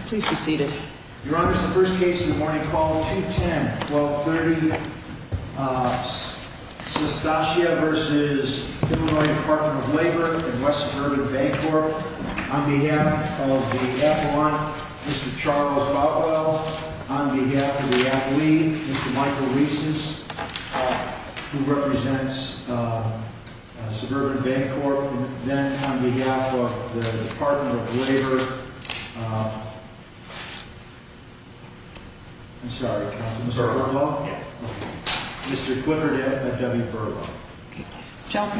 and West Suburban Bank Corp. On behalf of the F1, Mr. Charles Boutwell. On behalf of the athlete, Mr. Michael Reeses, who represents Suburban Bank Corp. Then on behalf of the I'm sorry, Mr. Boutwell? Yes. Mr. Clifford F. W. Boutwell.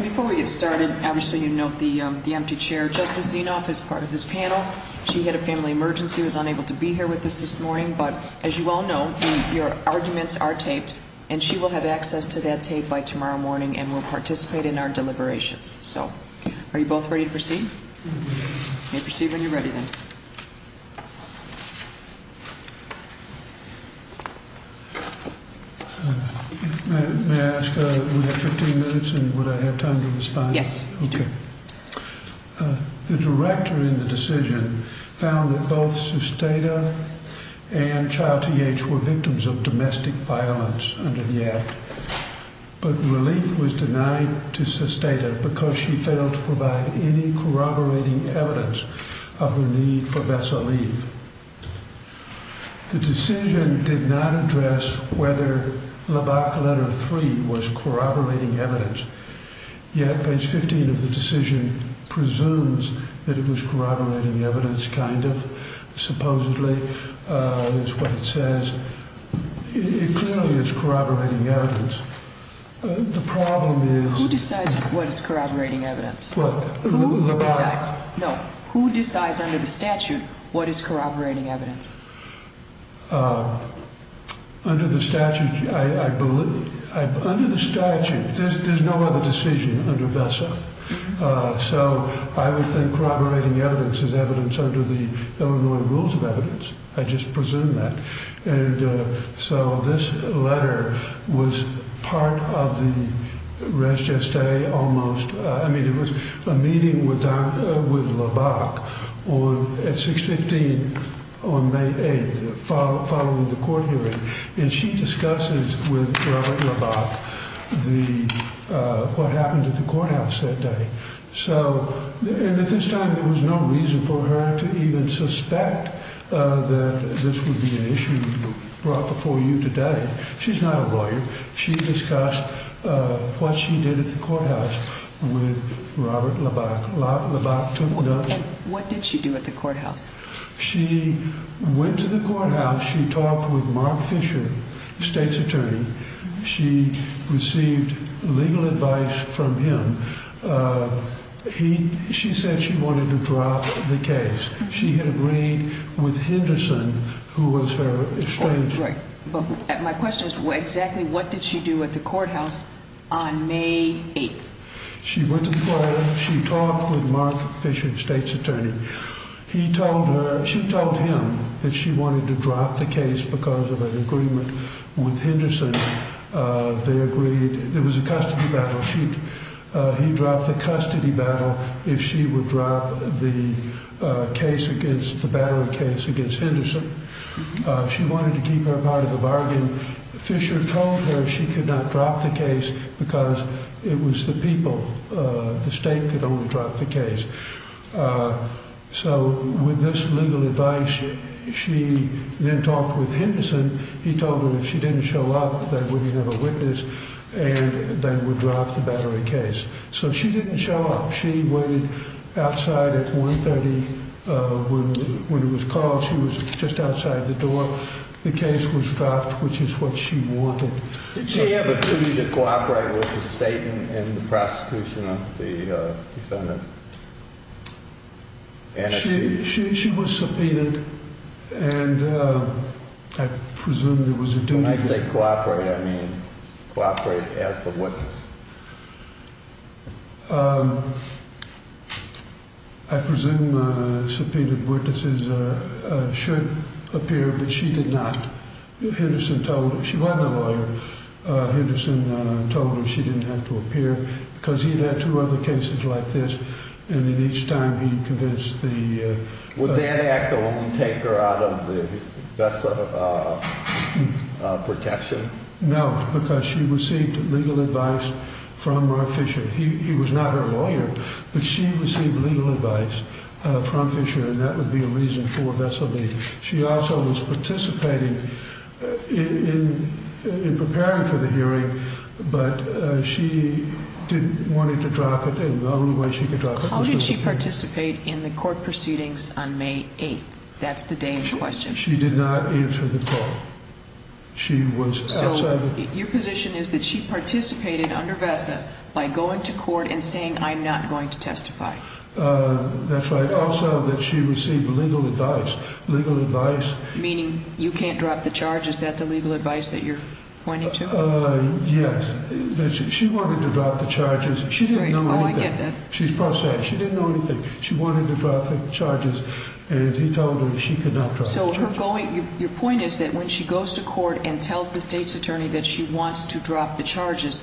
Before we get started, obviously you note the empty chair. Justice Zinoff is part of this panel. She had a family emergency and was unable to be here with us this morning. But as you all know, your arguments are taped and she will have access to that tape by tomorrow morning and will participate in our deliberations. So, are you both ready to proceed? You may proceed when you're ready then. May I ask, we have 15 minutes and would I have time to respond? Yes, you do. The director in the decision found that both Sustatia and Child TH were victims of domestic violence under the act. But relief was denied to Sustatia because she failed to provide any corroborating evidence of her need for vessel leave. The decision did not address whether Lhabak letter 3 was corroborating evidence. Yet page 15 of the decision presumes that it was corroborating evidence, kind of, supposedly, is what it says. It clearly is corroborating evidence. The problem is... Who decides what is corroborating evidence? No, who decides under the statute what is corroborating evidence? Under the statute, there's no other decision under VESA. So, I would think corroborating evidence is evidence under the Illinois Rules of Evidence. I just presume that. So, this letter was part of the res geste, almost. I mean, it was a meeting with Lhabak at 615 on May 8th, following the court hearing. And she discusses with Robert Lhabak what happened at the courthouse that day. And at this time, there was no reason for her to even suspect that this would be an issue brought before you today. She's not a lawyer. She discussed what she did at the courthouse with Robert Lhabak. What did she do at the courthouse? She went to the courthouse. She talked with Mark Fisher, the state's attorney. She received legal advice from him. She said she wanted to drop the case. She had agreed with Henderson, who was her estranged... My question is, exactly what did she do at the courthouse on May 8th? She went to the courthouse. She talked with Mark Fisher, the state's attorney. She told him that she wanted to drop the case because of an agreement with Henderson. There was a custody battle. He dropped the custody battle if she would drop the battery case against Henderson. She wanted to keep her part of the bargain. Fisher told her she could not drop the case because it was the people. The state could only drop the case. With this legal advice, she then talked with Henderson. He told her if she didn't show up, they wouldn't have a witness and they would drop the battery case. She didn't show up. She waited outside at 130. When it was called, she was just outside the door. The case was dropped, which is what she wanted. Did she have a duty to cooperate with the state in the prosecution of the defendant? She was subpoenaed and I presume there was a duty... When I say cooperate, I mean cooperate as the witness. I presume subpoenaed witnesses should appear, but she did not. She wasn't a lawyer. Henderson told her she didn't have to appear because he'd had two other cases like this. Each time he convinced the... Would that act only take her out of the vessel of protection? No, because she received legal advice from Mark Fisher. He was not her lawyer, but she received legal advice from Fisher. That would be a reason for vessel leave. She also was participating in preparing for the hearing, but she didn't want to drop it and the only way she could drop it was... How did she participate in the court proceedings on May 8th? That's the day in question. She did not answer the call. She was outside... So your position is that she participated under VESA by going to court and saying, I'm not going to testify. That's right. Also that she received legal advice. Legal advice... Meaning you can't drop the charges. Is that the legal advice that you're pointing to? Yes. She wanted to drop the charges. She didn't know anything. Oh, I get that. She didn't know anything. She wanted to drop the charges and he told her she could not drop the charges.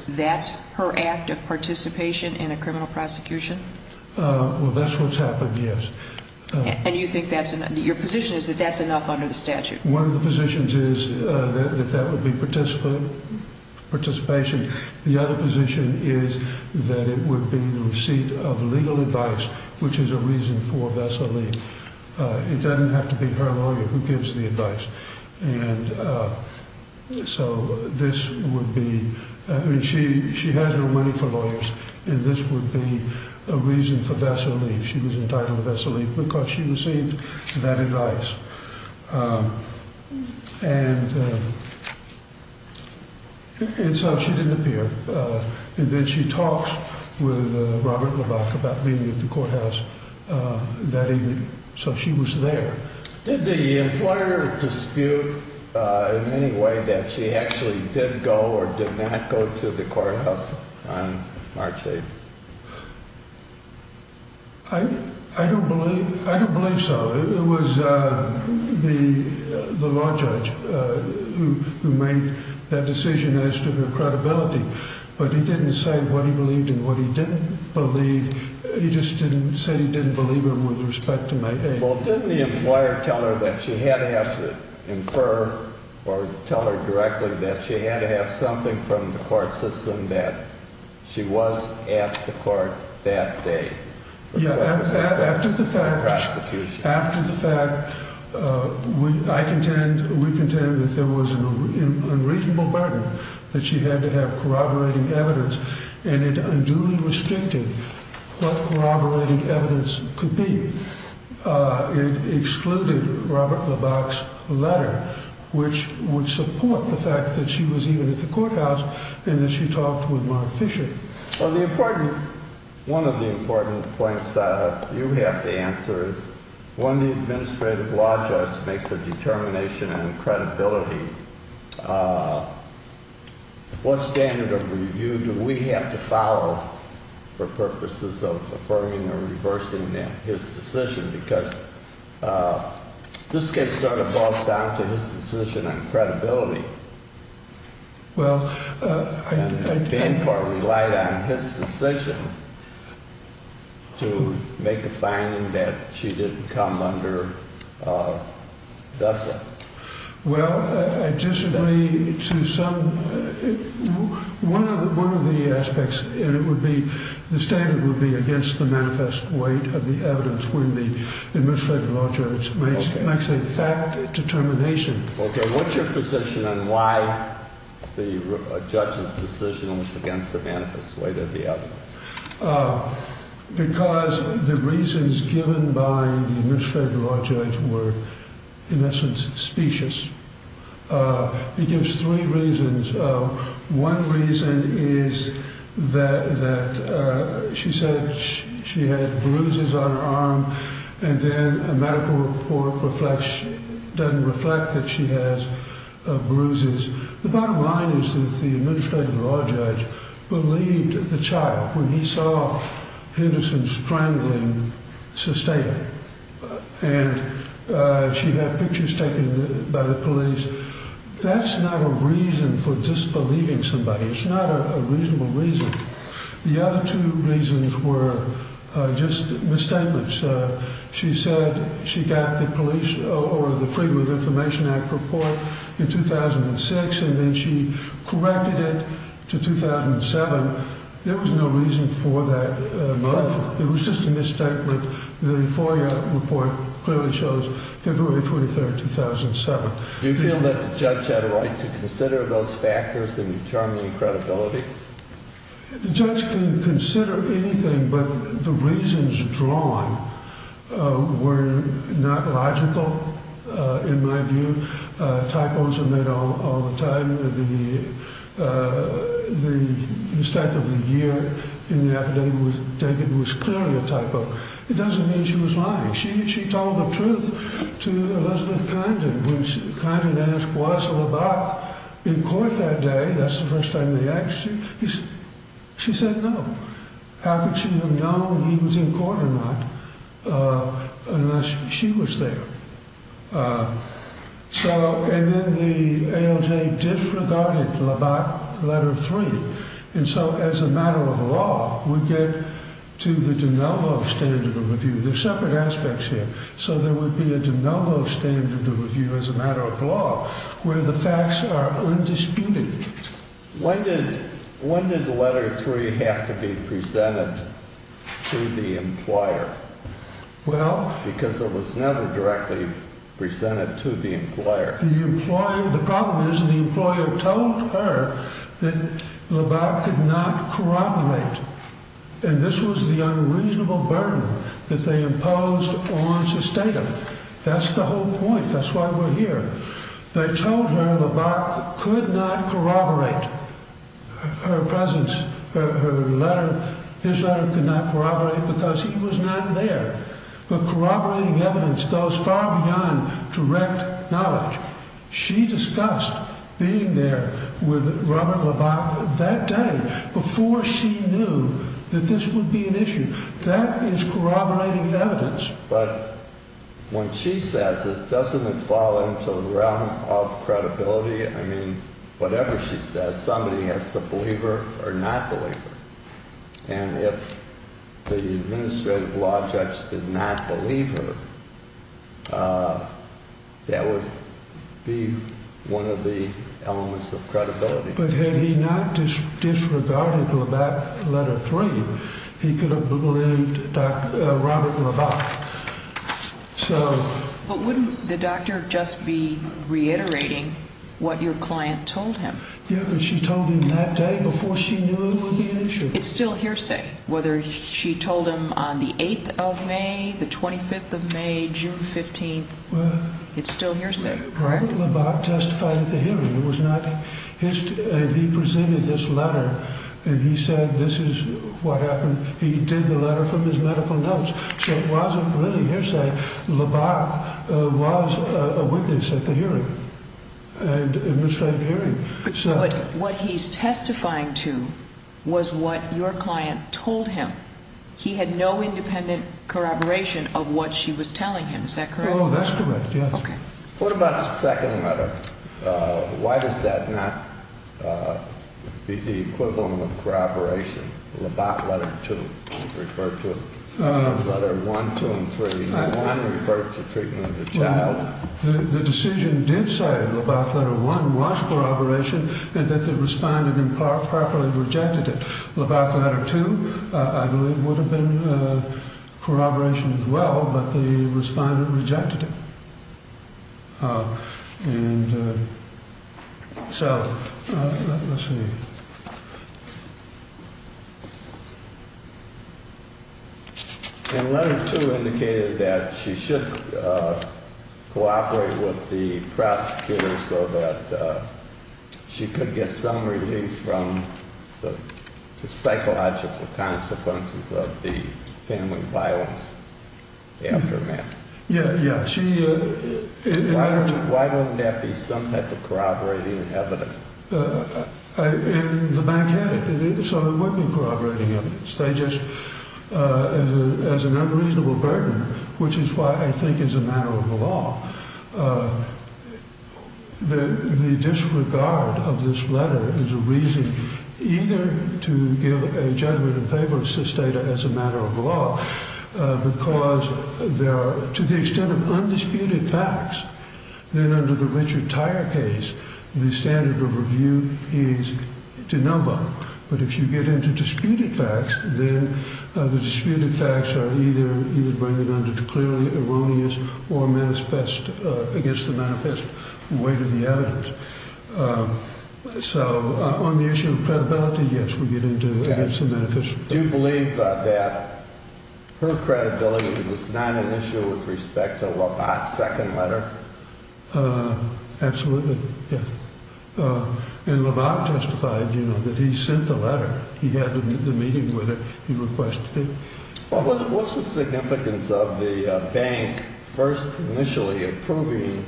That's her act of participation in a criminal prosecution? Well, that's what's happened, yes. And you think that's enough? Your position is that that's enough under the statute? One of the positions is that that would be participation. The other position is that it would be the receipt of legal advice, which is a reason for vessel leave. It doesn't have to be her lawyer who gives the advice. And so this would be, she has no money for lawyers, and this would be a reason for vessel leave. She was entitled to vessel leave because she received that advice. And so she didn't appear. And then she talked with Robert Labak about being at the courthouse that evening. So she was there. Did the employer dispute in any way that she actually did go or did not go to the courthouse on March 8th? I don't believe so. It was the law judge who made that decision as to her credibility. But he didn't say what he believed and what he didn't believe. He just didn't say he didn't believe her with respect to my case. Well, didn't the employer tell her that she had to have to infer or tell her directly that she had to have something from the court system that she was at the court that day? After the fact, I contend, we contend that there was an unreasonable burden that she had to have corroborating evidence, and it unduly restricted what corroborating evidence could be. It excluded Robert Labak's letter, which would support the fact that she was even at the courthouse and that she talked with Mark Fisher. Well, one of the important points that you have to answer is, when the administrative law judge makes a determination on credibility, what standard of review do we have to follow for purposes of affirming or reversing his decision? Because this case sort of boils down to his decision on credibility. Well, I think... And Bancorp relied on his decision to make a finding that she didn't come under vessel. Well, I disagree to some... One of the aspects, and it would be, the standard would be against the manifest weight of the evidence when the administrative law judge makes a fact determination. Okay, what's your position on why the judge's decision was against the manifest weight of the evidence? Because the reasons given by the administrative law judge were, in essence, specious. He gives three reasons. One reason is that she said she had bruises on her arm, and then a medical report doesn't reflect that she has bruises. The bottom line is that the administrative law judge believed the child when he saw Henderson strangling Sustained. And she had pictures taken by the police. That's not a reason for disbelieving somebody. It's not a reasonable reason. The other two reasons were just misstatements. She said she got the Freedom of Information Act report in 2006, and then she corrected it to 2007. There was no reason for that misstatement. It was just a misstatement. The FOIA report clearly shows February 23, 2007. Do you feel that the judge had a right to consider those factors that determine credibility? The judge can consider anything, but the reasons drawn were not logical, in my view. Typos are made all the time. The mistake of the year in the affidavit was clearly a typo. It doesn't mean she was lying. She told the truth to Elizabeth Condon. When Condon asked Wasilla Bach in court that day, that's the first time they asked you, she said no. How could she have known he was in court or not unless she was there? Then the ALJ disregarded letter three. As a matter of law, we get to the de novo standard of review. There are separate aspects here. There would be a de novo standard of review as a matter of law where the facts are undisputed. When did letter three have to be presented to the employer? Because it was never directly presented to the employer. The problem is the employer told her that LeBach could not corroborate, and this was the unreasonable burden that they imposed on Sestatum. That's the whole point. That's why we're here. They told her LeBach could not corroborate her presence. His letter could not corroborate because he was not there. But corroborating evidence goes far beyond direct knowledge. She discussed being there with Robert LeBach that day before she knew that this would be an issue. That is corroborating evidence. But when she says it, doesn't it fall into the realm of credibility? Whatever she says, somebody has to believe her or not believe her. And if the administrative law judge did not believe her, that would be one of the elements of credibility. But had he not disregarded LeBach's letter three, he could have believed Robert LeBach. But wouldn't the doctor just be reiterating what your client told him? Yeah, but she told him that day before she knew it would be an issue. It's still hearsay, whether she told him on the 8th of May, the 25th of May, June 15th. It's still hearsay, correct? Robert LeBach testified at the hearing. He presented this letter, and he said this is what happened. He did the letter from his medical notes. So it wasn't really hearsay. LeBach was a witness at the hearing, administrative hearing. But what he's testifying to was what your client told him. He had no independent corroboration of what she was telling him. Is that correct? Oh, that's correct, yes. What about the second letter? Why does that not be the equivalent of corroboration? LeBach letter two referred to it. Letter one, two, and three, one referred to treatment of the child. The decision did say LeBach letter one was corroboration, and that the respondent improperly rejected it. LeBach letter two, I believe, would have been corroboration as well, but the respondent rejected it. And so, let's see. And letter two indicated that she should cooperate with the prosecutor so that she could get some relief from the psychological consequences of the family violence aftermath. Yeah, yeah. Why wouldn't that be some type of corroborating evidence? In the backhand, it sort of would be corroborating evidence. They just, as an unreasonable burden, which is why I think it's a matter of the law. The disregard of this letter is a reason either to give a judgment in favor of sys data as a matter of law, because there are, to the extent of undisputed facts, then under the Richard Tyre case, the standard of review is de novo. But if you get into disputed facts, then the disputed facts are either, you would bring it under to clearly erroneous or manifest against the manifest way to the evidence. So, on the issue of credibility, yes, we get into against the manifest. Do you believe that her credibility was not an issue with respect to LeBach's second letter? Absolutely, yeah. And LeBach testified, you know, that he sent the letter. He had the meeting with it. He requested it. What's the significance of the bank first initially approving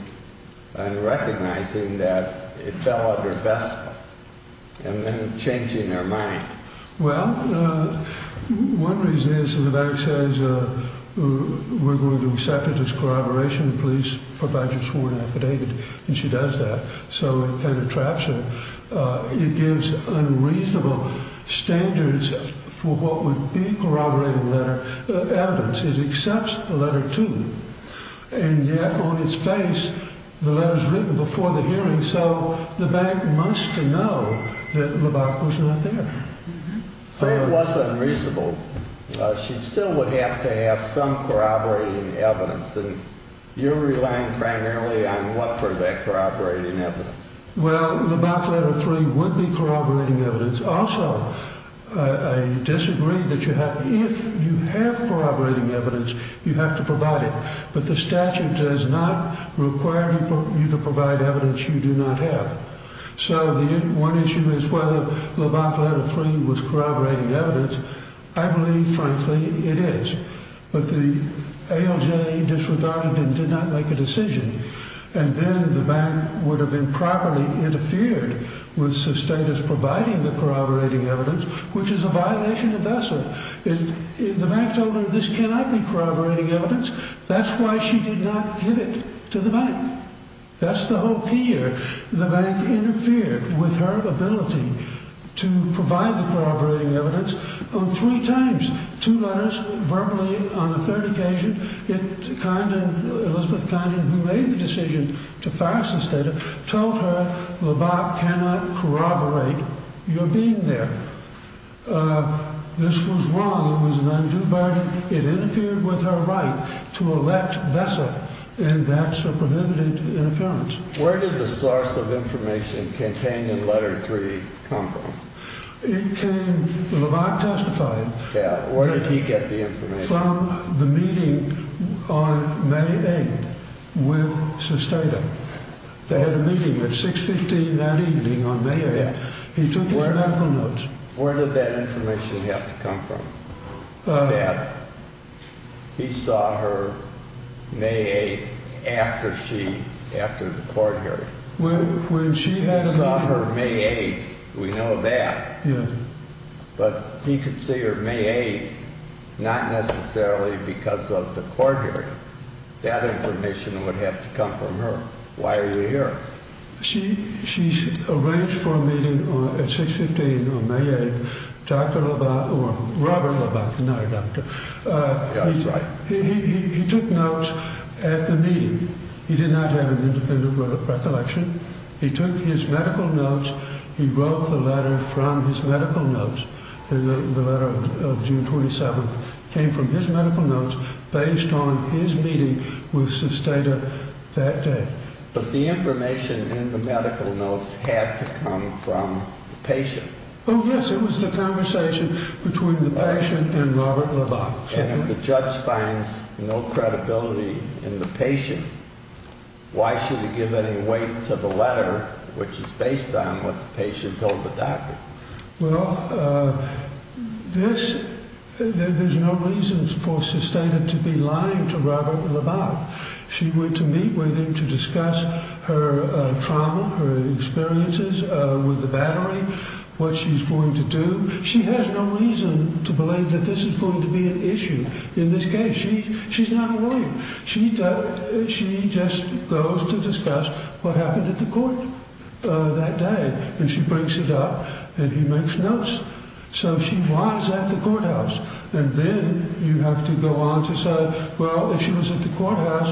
and recognizing that it fell under BESPA and then changing their mind? Well, one reason is the bank says we're going to accept it as corroboration. The police provides a sworn affidavit, and she does that. So it kind of traps her. It gives unreasonable standards for what would be corroborated letter evidence. It accepts the letter, too. And yet on its face, the letter is written before the hearing. So the bank must know that LeBach was not there. So it was unreasonable. She still would have to have some corroborating evidence. And you're relying primarily on what for that corroborating evidence? Well, LeBach letter three would be corroborating evidence. Also, I disagree that if you have corroborating evidence, you have to provide it. But the statute does not require you to provide evidence you do not have. So one issue is whether LeBach letter three was corroborating evidence. I believe, frankly, it is. But the ALJ disregarded it and did not make a decision. And then the bank would have improperly interfered with the status providing the corroborating evidence, which is a violation of ESSA. The bank told her this cannot be corroborating evidence. That's why she did not give it to the bank. That's the whole key here. The bank interfered with her ability to provide the corroborating evidence three times. Two letters verbally on the third occasion. Elizabeth Condon, who made the decision to file this data, told her LeBach cannot corroborate your being there. This was wrong. It was an undue burden. It interfered with her right to elect ESSA, and that's a prohibited interference. Where did the source of information contained in letter three come from? LeBach testified. Where did he get the information? From the meeting on May 8th with Sustato. They had a meeting at 615 that evening on May 8th. He took his medical notes. Where did that information have to come from? That he saw her May 8th after she, after the court hearing. He saw her May 8th. We know that. But he could see her May 8th not necessarily because of the court hearing. That information would have to come from her. Why are you here? She arranged for a meeting at 615 on May 8th. Dr. LeBach, or Robert LeBach, not a doctor. He took notes at the meeting. He did not have an independent recollection. He took his medical notes. He wrote the letter from his medical notes, the letter of June 27th. It came from his medical notes based on his meeting with Sustato that day. But the information in the medical notes had to come from the patient. Oh, yes. It was the conversation between the patient and Robert LeBach. And if the judge finds no credibility in the patient, why should he give any weight to the letter, which is based on what the patient told the doctor? Well, this, there's no reason for Sustato to be lying to Robert LeBach. She went to meet with him to discuss her trauma, her experiences with the battery, what she's going to do. She has no reason to believe that this is going to be an issue. In this case, she's not lying. She just goes to discuss what happened at the court that day. And she brings it up, and he makes notes. So she was at the courthouse. And then you have to go on to say, well, if she was at the courthouse,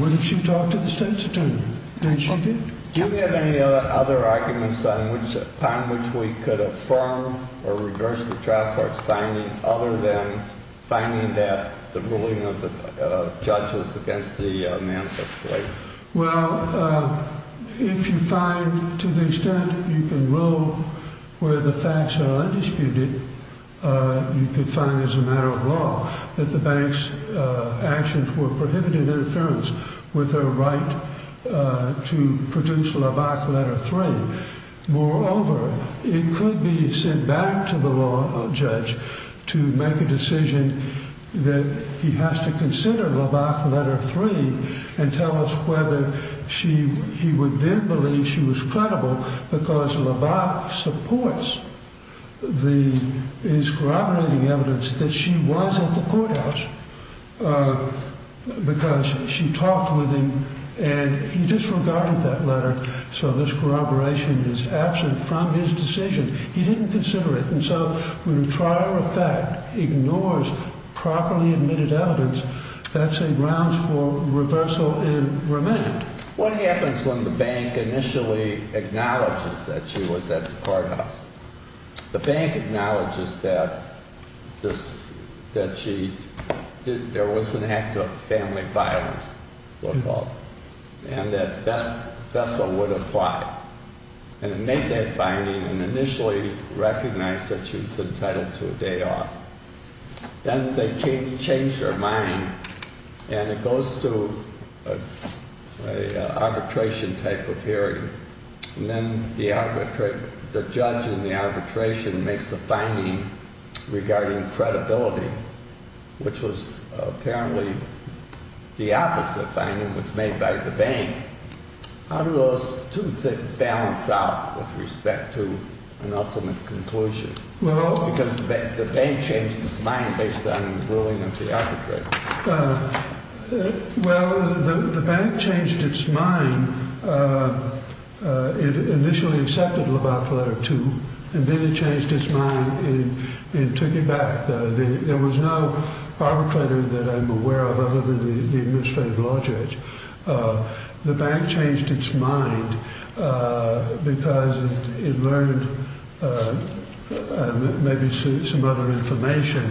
what if she talked to the state's attorney? And she did. Do you have any other arguments upon which we could affirm or reverse the trial court's finding, other than finding that the ruling of the judge was against the manifesto? Well, if you find, to the extent you can rule where the facts are undisputed, you could find as a matter of law that the bank's actions were prohibited interference with her right to produce LeBach letter three. Moreover, it could be sent back to the law judge to make a decision that he has to consider LeBach letter three and tell us whether he would then believe she was credible because LeBach supports his corroborating evidence that she was at the courthouse because she talked with him and he disregarded that letter. So this corroboration is absent from his decision. He didn't consider it. And so when a trial of fact ignores properly admitted evidence, that's a grounds for reversal and remand. What happens when the bank initially acknowledges that she was at the courthouse? The bank acknowledges that there was an act of family violence, so-called, and that Fessel would apply. And it made that finding and initially recognized that she was entitled to a day off. Then they changed her mind and it goes to an arbitration type of hearing. And then the judge in the arbitration makes a finding regarding credibility, which was apparently the opposite finding was made by the bank. How do those two things balance out with respect to an ultimate conclusion? Because the bank changed its mind based on the ruling of the arbitrator. Well, the bank changed its mind. It initially accepted LeBach letter two and then it changed its mind and took it back. There was no arbitrator that I'm aware of other than the administrative law judge. The bank changed its mind because it learned, maybe some other information,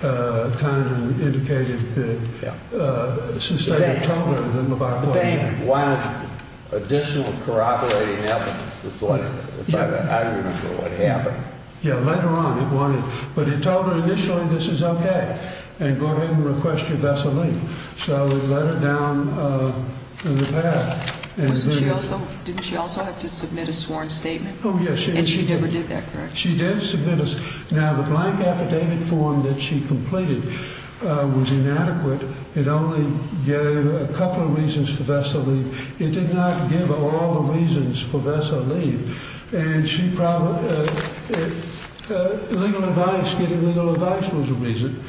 kind of indicated that since they had told her that LeBach wasn't there. The bank wanted additional corroborating evidence. I don't remember what happened. Yeah, later on it wanted, but it told her initially this is okay and go ahead and request your vessel leave. So it let her down the path. Didn't she also have to submit a sworn statement? Oh, yes. And she never did that, correct? She did submit a, now the blank affidavit form that she completed was inadequate. It only gave a couple of reasons for vessel leave. It did not give all the reasons for vessel leave. And she probably, legal advice, getting legal advice was a reason.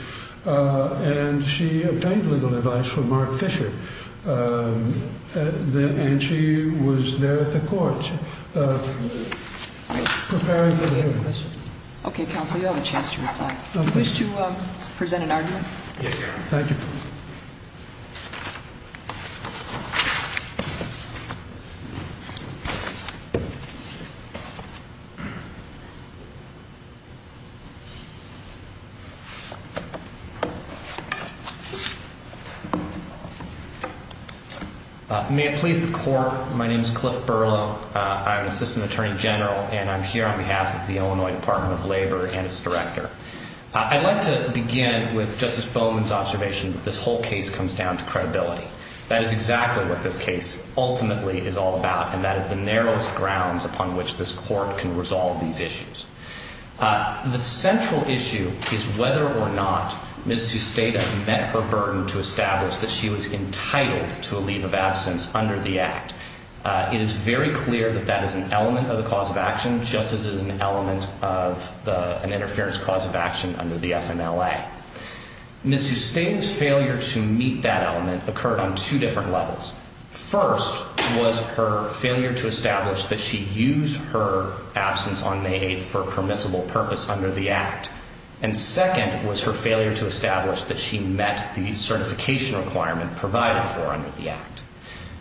And she obtained legal advice from Mark Fisher. And she was there at the court preparing for the hearing. Okay, counsel, you have a chance to reply. Do you wish to present an argument? Yes. Thank you. May it please the court, my name is Cliff Berlow. I'm an assistant attorney general, and I'm here on behalf of the Illinois Department of Labor and its director. I'd like to begin with Justice Bowman's observation that this whole case comes down to credibility. That is exactly what this case ultimately is all about, and that is the narrowest grounds upon which this court can resolve these issues. The central issue is whether or not Ms. Susteda met her burden to establish that she was entitled to a leave of absence under the act. It is very clear that that is an element of the cause of action, just as it is an element of an interference cause of action under the FMLA. Ms. Susteda's failure to meet that element occurred on two different levels. First was her failure to establish that she used her absence on May 8th for a permissible purpose under the act. And second was her failure to establish that she met the certification requirement provided for under the act.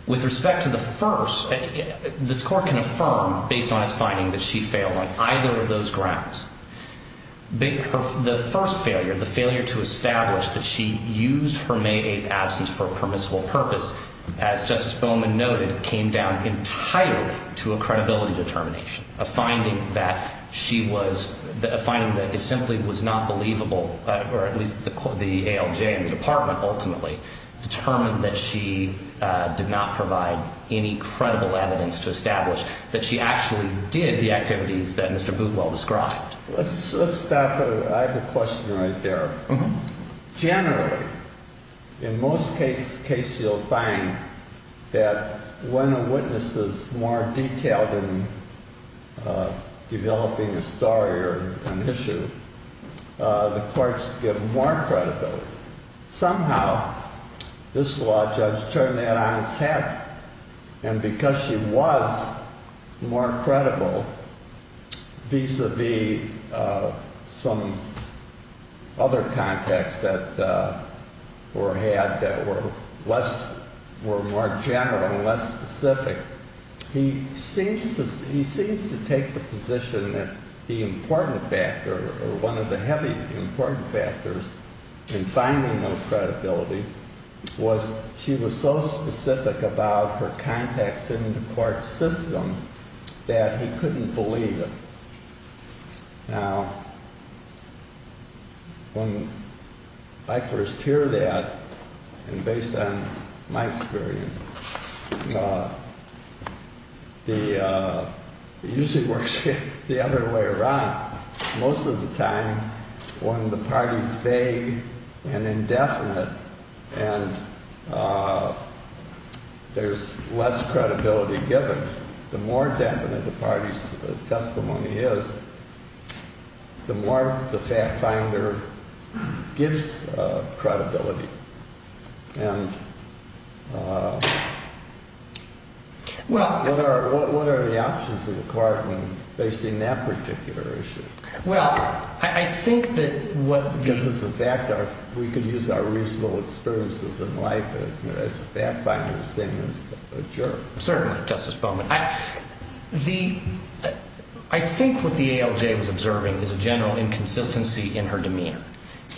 With respect to the first, this court can affirm, based on its finding, that she failed on either of those grounds. The first failure, the failure to establish that she used her May 8th absence for a permissible purpose, as Justice Bowman noted, came down entirely to a credibility determination, a finding that it simply was not believable, or at least the ALJ and the Department ultimately, determined that she did not provide any credible evidence to establish that she actually did the activities that Mr. Bootwell described. Let's stop there. I have a question right there. Generally, in most cases, you'll find that when a witness is more detailed in developing a story or an issue, the court's given more credibility. Somehow, this law judge turned that on its head, and because she was more credible, vis-a-vis some other contacts that were had that were less, were more general and less specific, he seems to take the position that the important factor, or one of the heavy important factors in finding those credibility, was she was so specific about her contacts in the court system that he couldn't believe it. Now, when I first hear that, and based on my experience, it usually works the other way around. Most of the time, when the party's vague and indefinite, and there's less credibility given, the more definite the party's testimony is, the more the fact finder gives credibility. And what are the options of the court when facing that particular issue? Well, I think that what the… Because as a factor, we could use our reasonable experiences in life as a fact finder, the same as a juror. Certainly, Justice Bowman. I think what the ALJ was observing is a general inconsistency in her demeanor,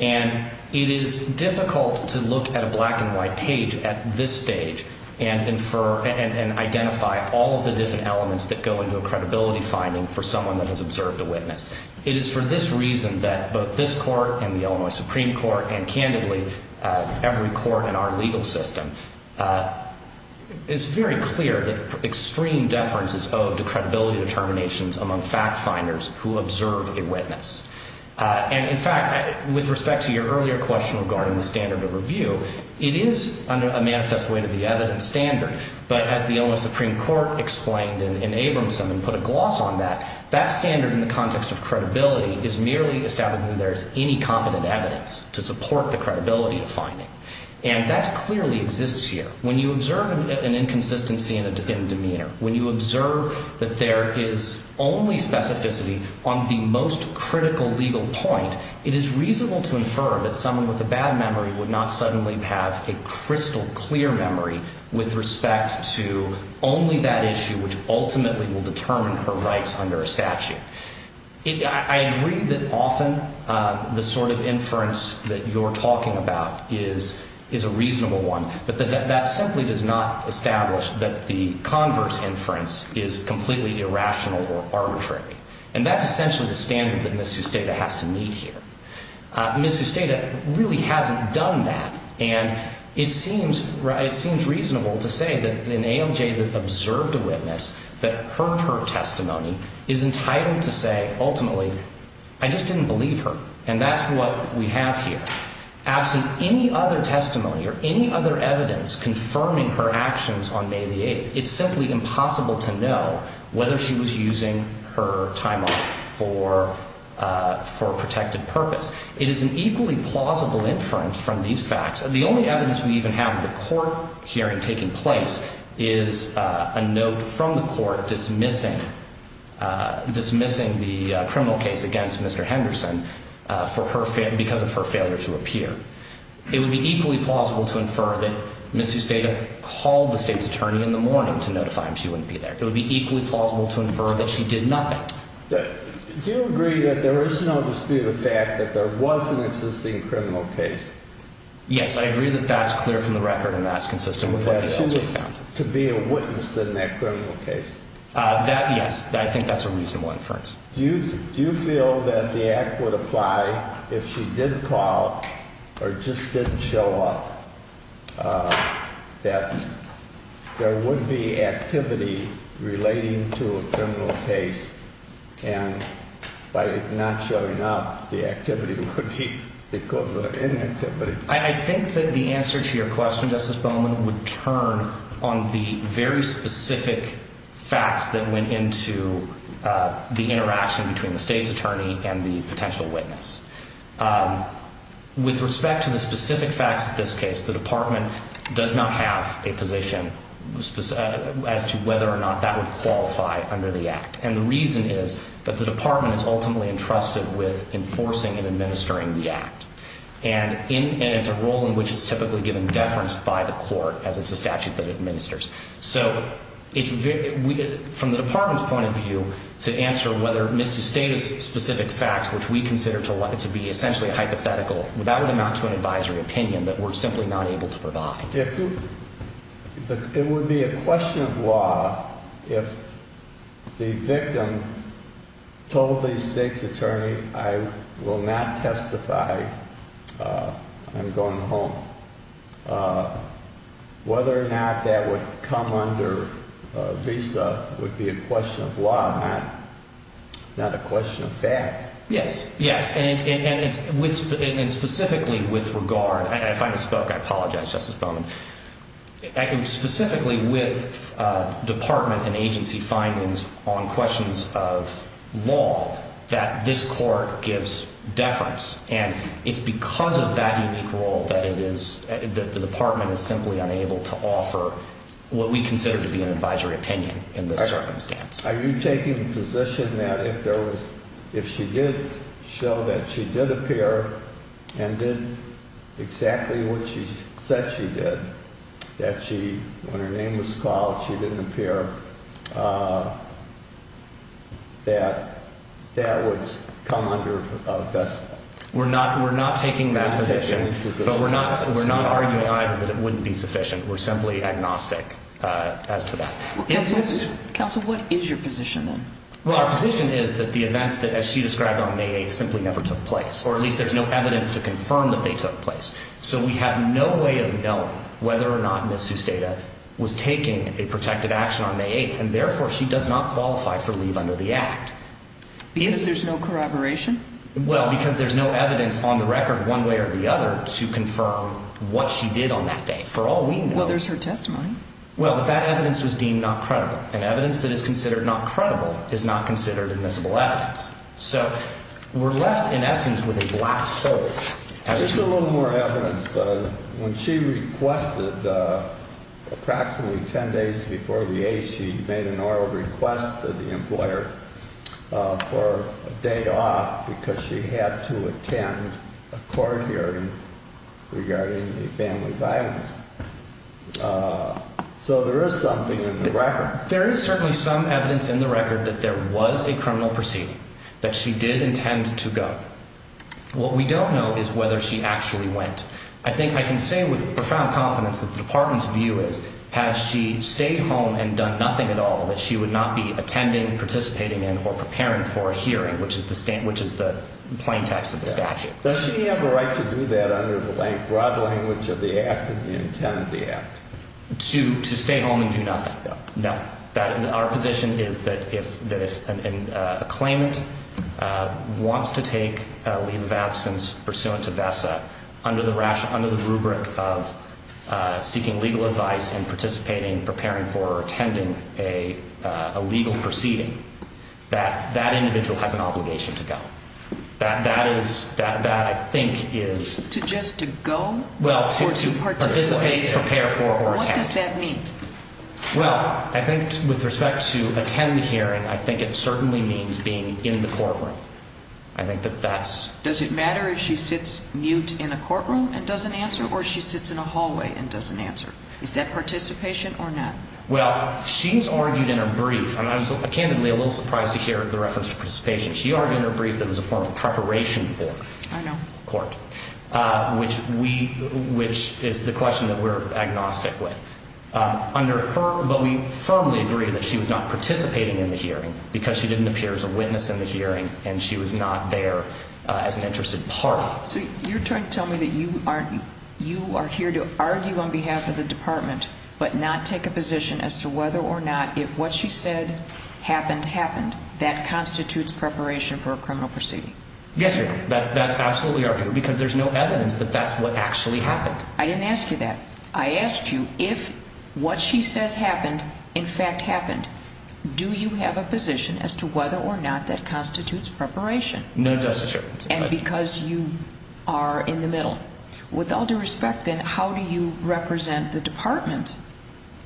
and it is difficult to look at a black and white page at this stage and identify all of the different elements that go into a credibility finding for someone that has observed a witness. It is for this reason that both this court and the Illinois Supreme Court, and, candidly, every court in our legal system, it's very clear that extreme deference is owed to credibility determinations among fact finders who observe a witness. And, in fact, with respect to your earlier question regarding the standard of review, it is a manifest way to the evidence standard. But as the Illinois Supreme Court explained in Abramson and put a gloss on that, that standard in the context of credibility is merely established when there is any competent evidence to support the credibility of finding. And that clearly exists here. When you observe an inconsistency in a demeanor, when you observe that there is only specificity on the most critical legal point, it is reasonable to infer that someone with a bad memory would not suddenly have a crystal clear memory with respect to only that issue which ultimately will determine her rights under a statute. I agree that often the sort of inference that you're talking about is a reasonable one, but that simply does not establish that the converse inference is completely irrational or arbitrary. And that's essentially the standard that Miss Husteda has to meet here. Miss Husteda really hasn't done that. And it seems reasonable to say that an ALJ that observed a witness, that heard her testimony, is entitled to say ultimately, I just didn't believe her. And that's what we have here. Absent any other testimony or any other evidence confirming her actions on May the 8th, it's simply impossible to know whether she was using her time off for a protected purpose. It is an equally plausible inference from these facts. The only evidence we even have of the court hearing taking place is a note from the court dismissing the criminal case against Mr. Henderson because of her failure to appear. It would be equally plausible to infer that Miss Husteda called the state's attorney in the morning to notify him she wouldn't be there. It would be equally plausible to infer that she did nothing. Do you agree that there is no dispute of fact that there was an existing criminal case? Yes, I agree that that's clear from the record and that's consistent with what the judge found. Was that she was to be a witness in that criminal case? Yes, I think that's a reasonable inference. Do you feel that the act would apply if she did call or just didn't show up, that there would be activity relating to a criminal case, and by not showing up the activity would be the cause of inactivity? I think that the answer to your question, Justice Bowman, would turn on the very specific facts that went into the interaction between the state's attorney and the potential witness. With respect to the specific facts of this case, the department does not have a position as to whether or not that would qualify under the act. And the reason is that the department is ultimately entrusted with enforcing and administering the act. And it's a role in which it's typically given deference by the court as it's a statute that administers. So from the department's point of view, to answer whether Miss Husteda's specific facts, which we consider to be essentially hypothetical, that would amount to an advisory opinion that we're simply not able to provide. It would be a question of law if the victim told the state's attorney, I will not testify, I'm going home. Whether or not that would come under visa would be a question of law, not a question of fact. Yes, yes. And specifically with regard, if I misspoke, I apologize, Justice Bowman. Specifically with department and agency findings on questions of law, that this court gives deference. And it's because of that unique role that the department is simply unable to offer what we consider to be an advisory opinion in this circumstance. Are you taking the position that if she did show that she did appear and did exactly what she said she did, that when her name was called, she didn't appear, that that would come under a visa? We're not taking that position, but we're not arguing either that it wouldn't be sufficient. We're simply agnostic as to that. Counsel, what is your position then? Well, our position is that the events that, as she described on May 8th, simply never took place, or at least there's no evidence to confirm that they took place. So we have no way of knowing whether or not Ms. Susteda was taking a protective action on May 8th, and therefore she does not qualify for leave under the Act. Because there's no corroboration? Well, because there's no evidence on the record one way or the other to confirm what she did on that day. For all we know. Well, there's her testimony. Well, but that evidence was deemed not credible, and evidence that is considered not credible is not considered admissible evidence. So we're left, in essence, with a black shirt. Just a little more evidence. When she requested approximately 10 days before the 8th, she made an oral request to the employer for a day off because she had to attend a court hearing regarding the family violence. So there is something in the record. There is certainly some evidence in the record that there was a criminal proceeding, that she did intend to go. What we don't know is whether she actually went. I think I can say with profound confidence that the Department's view is, had she stayed home and done nothing at all, that she would not be attending, participating in, or preparing for a hearing, which is the plain text of the statute. Does she have a right to do that under the broad language of the act and the intent of the act? To stay home and do nothing. No. Our position is that if a claimant wants to take a leave of absence pursuant to VESA, under the rubric of seeking legal advice and participating, preparing for, or attending a legal proceeding, that individual has an obligation to go. That is, that I think is. Just to go? Well, to participate, prepare for, or attend. What does that mean? Well, I think with respect to attend the hearing, I think it certainly means being in the courtroom. I think that that's. Does it matter if she sits mute in a courtroom and doesn't answer, or if she sits in a hallway and doesn't answer? Is that participation or not? Well, she's argued in her brief, and I was candidly a little surprised to hear the reference to participation. She argued in her brief that it was a form of preparation for court, which is the question that we're agnostic with. But we firmly agree that she was not participating in the hearing because she didn't appear as a witness in the hearing, and she was not there as an interested party. So you're trying to tell me that you are here to argue on behalf of the department but not take a position as to whether or not if what she said happened happened, that constitutes preparation for a criminal proceeding? Yes, ma'am. That's absolutely our view because there's no evidence that that's what actually happened. I didn't ask you that. I asked you if what she says happened in fact happened, do you have a position as to whether or not that constitutes preparation? No, Justice. And because you are in the middle. With all due respect, then, how do you represent the department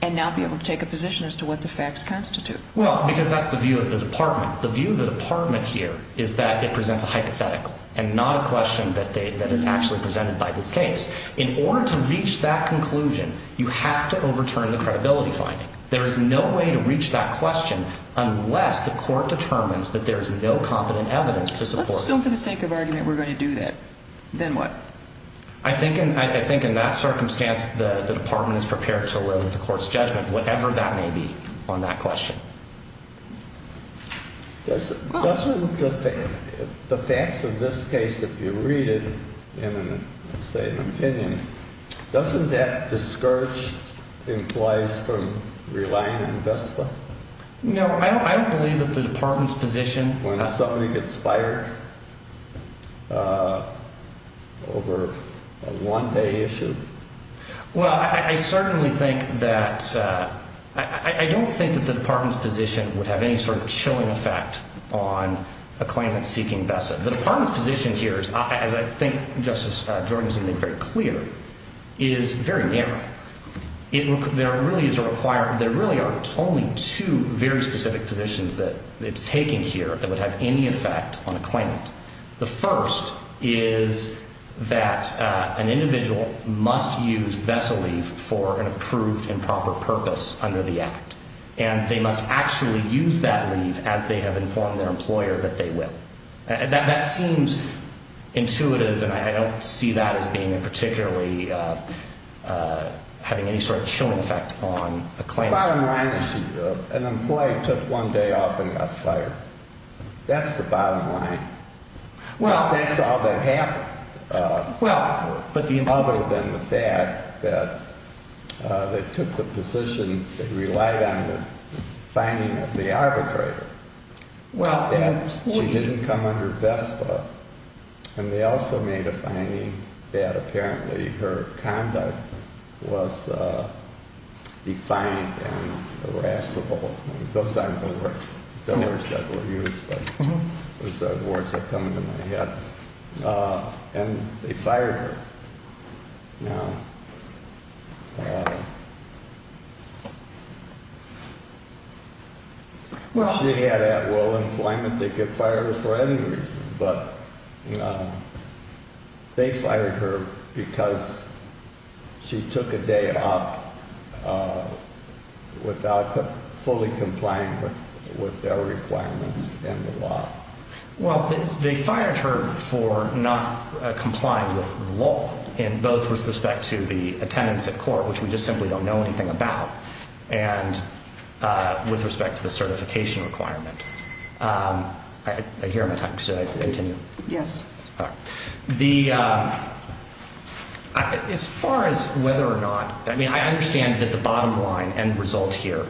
and not be able to take a position as to what the facts constitute? Well, because that's the view of the department. The view of the department here is that it presents a hypothetical and not a question that is actually presented by this case. In order to reach that conclusion, you have to overturn the credibility finding. There is no way to reach that question unless the court determines that there is no competent evidence to support it. So for the sake of argument, we're going to do that. Then what? I think in that circumstance, the department is prepared to load the court's judgment, whatever that may be, on that question. Doesn't the facts of this case, if you read it in, say, an opinion, doesn't that discourage employees from relying on VISPA? No, I don't believe that the department's position. When somebody gets fired over a one-day issue? Well, I don't think that the department's position would have any sort of chilling effect on a claimant seeking VESA. The department's position here, as I think Justice Jordan has made very clear, is very narrow. There really are only two very specific positions that it's taking here that would have any effect on a claimant. The first is that an individual must use VESA leave for an approved and proper purpose under the Act, and they must actually use that leave as they have informed their employer that they will. That seems intuitive, and I don't see that as being particularly having any sort of chilling effect on a claimant. Bottom line, an employee took one day off and got fired. That's the bottom line. Because that's all that happened. Other than the fact that they took the position, they relied on the finding of the arbitrator. She didn't come under VESPA, and they also made a finding that apparently her conduct was defiant and irascible. Those aren't the words that were used, but those are the words that come to my head. And they fired her. Now, if she had at-will employment, they could fire her for any reason, but they fired her because she took a day off without fully complying with their requirements and the law. Well, they fired her for not complying with the law in both respect to the attendance at court, which we just simply don't know anything about, and with respect to the certification requirement. I hear my time. Should I continue? Yes. All right. As far as whether or not, I mean, I understand that the bottom line end result here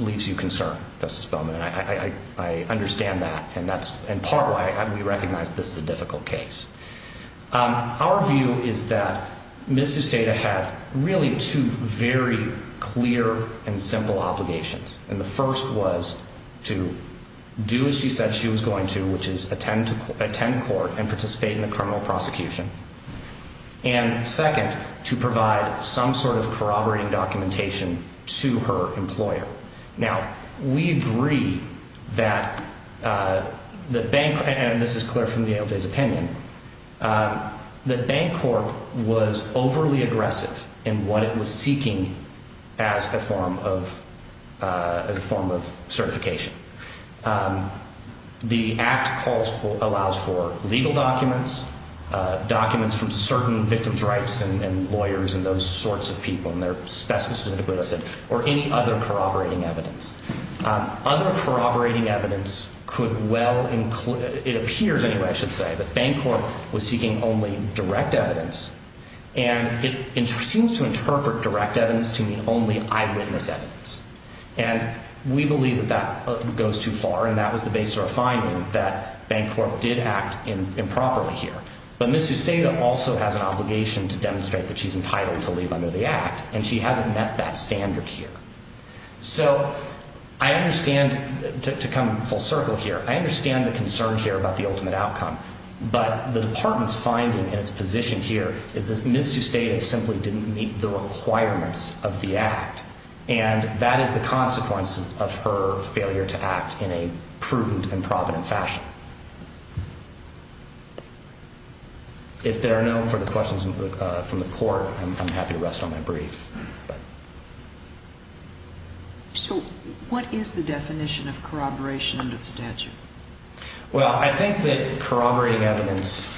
leaves you concerned, Justice Bowman, and I understand that, and that's in part why we recognize this is a difficult case. Our view is that Ms. Usteda had really two very clear and simple obligations, and the first was to do as she said she was going to, which is attend court and participate in a criminal prosecution, and second, to provide some sort of corroborating documentation to her employer. Now, we agree that the bank, and this is clear from the ALJ's opinion, that Bancorp was overly aggressive in what it was seeking as a form of certification. The Act allows for legal documents, documents from certain victims' rights and lawyers and those sorts of people and their specimens, or any other corroborating evidence. Other corroborating evidence could well include, it appears anyway, I should say, that Bancorp was seeking only direct evidence, and it seems to interpret direct evidence to mean only eyewitness evidence. And we believe that that goes too far, and that was the basis of our finding, that Bancorp did act improperly here. But Ms. Usteda also has an obligation to demonstrate that she's entitled to leave under the Act, and she hasn't met that standard here. So I understand, to come full circle here, I understand the concern here about the ultimate outcome, but the Department's finding in its position here is that Ms. Usteda simply didn't meet the requirements of the Act, and that is the consequence of her failure to act in a prudent and provident fashion. If there are no further questions from the Court, I'm happy to rest on my brief. So what is the definition of corroboration under the statute? Well, I think that corroborating evidence,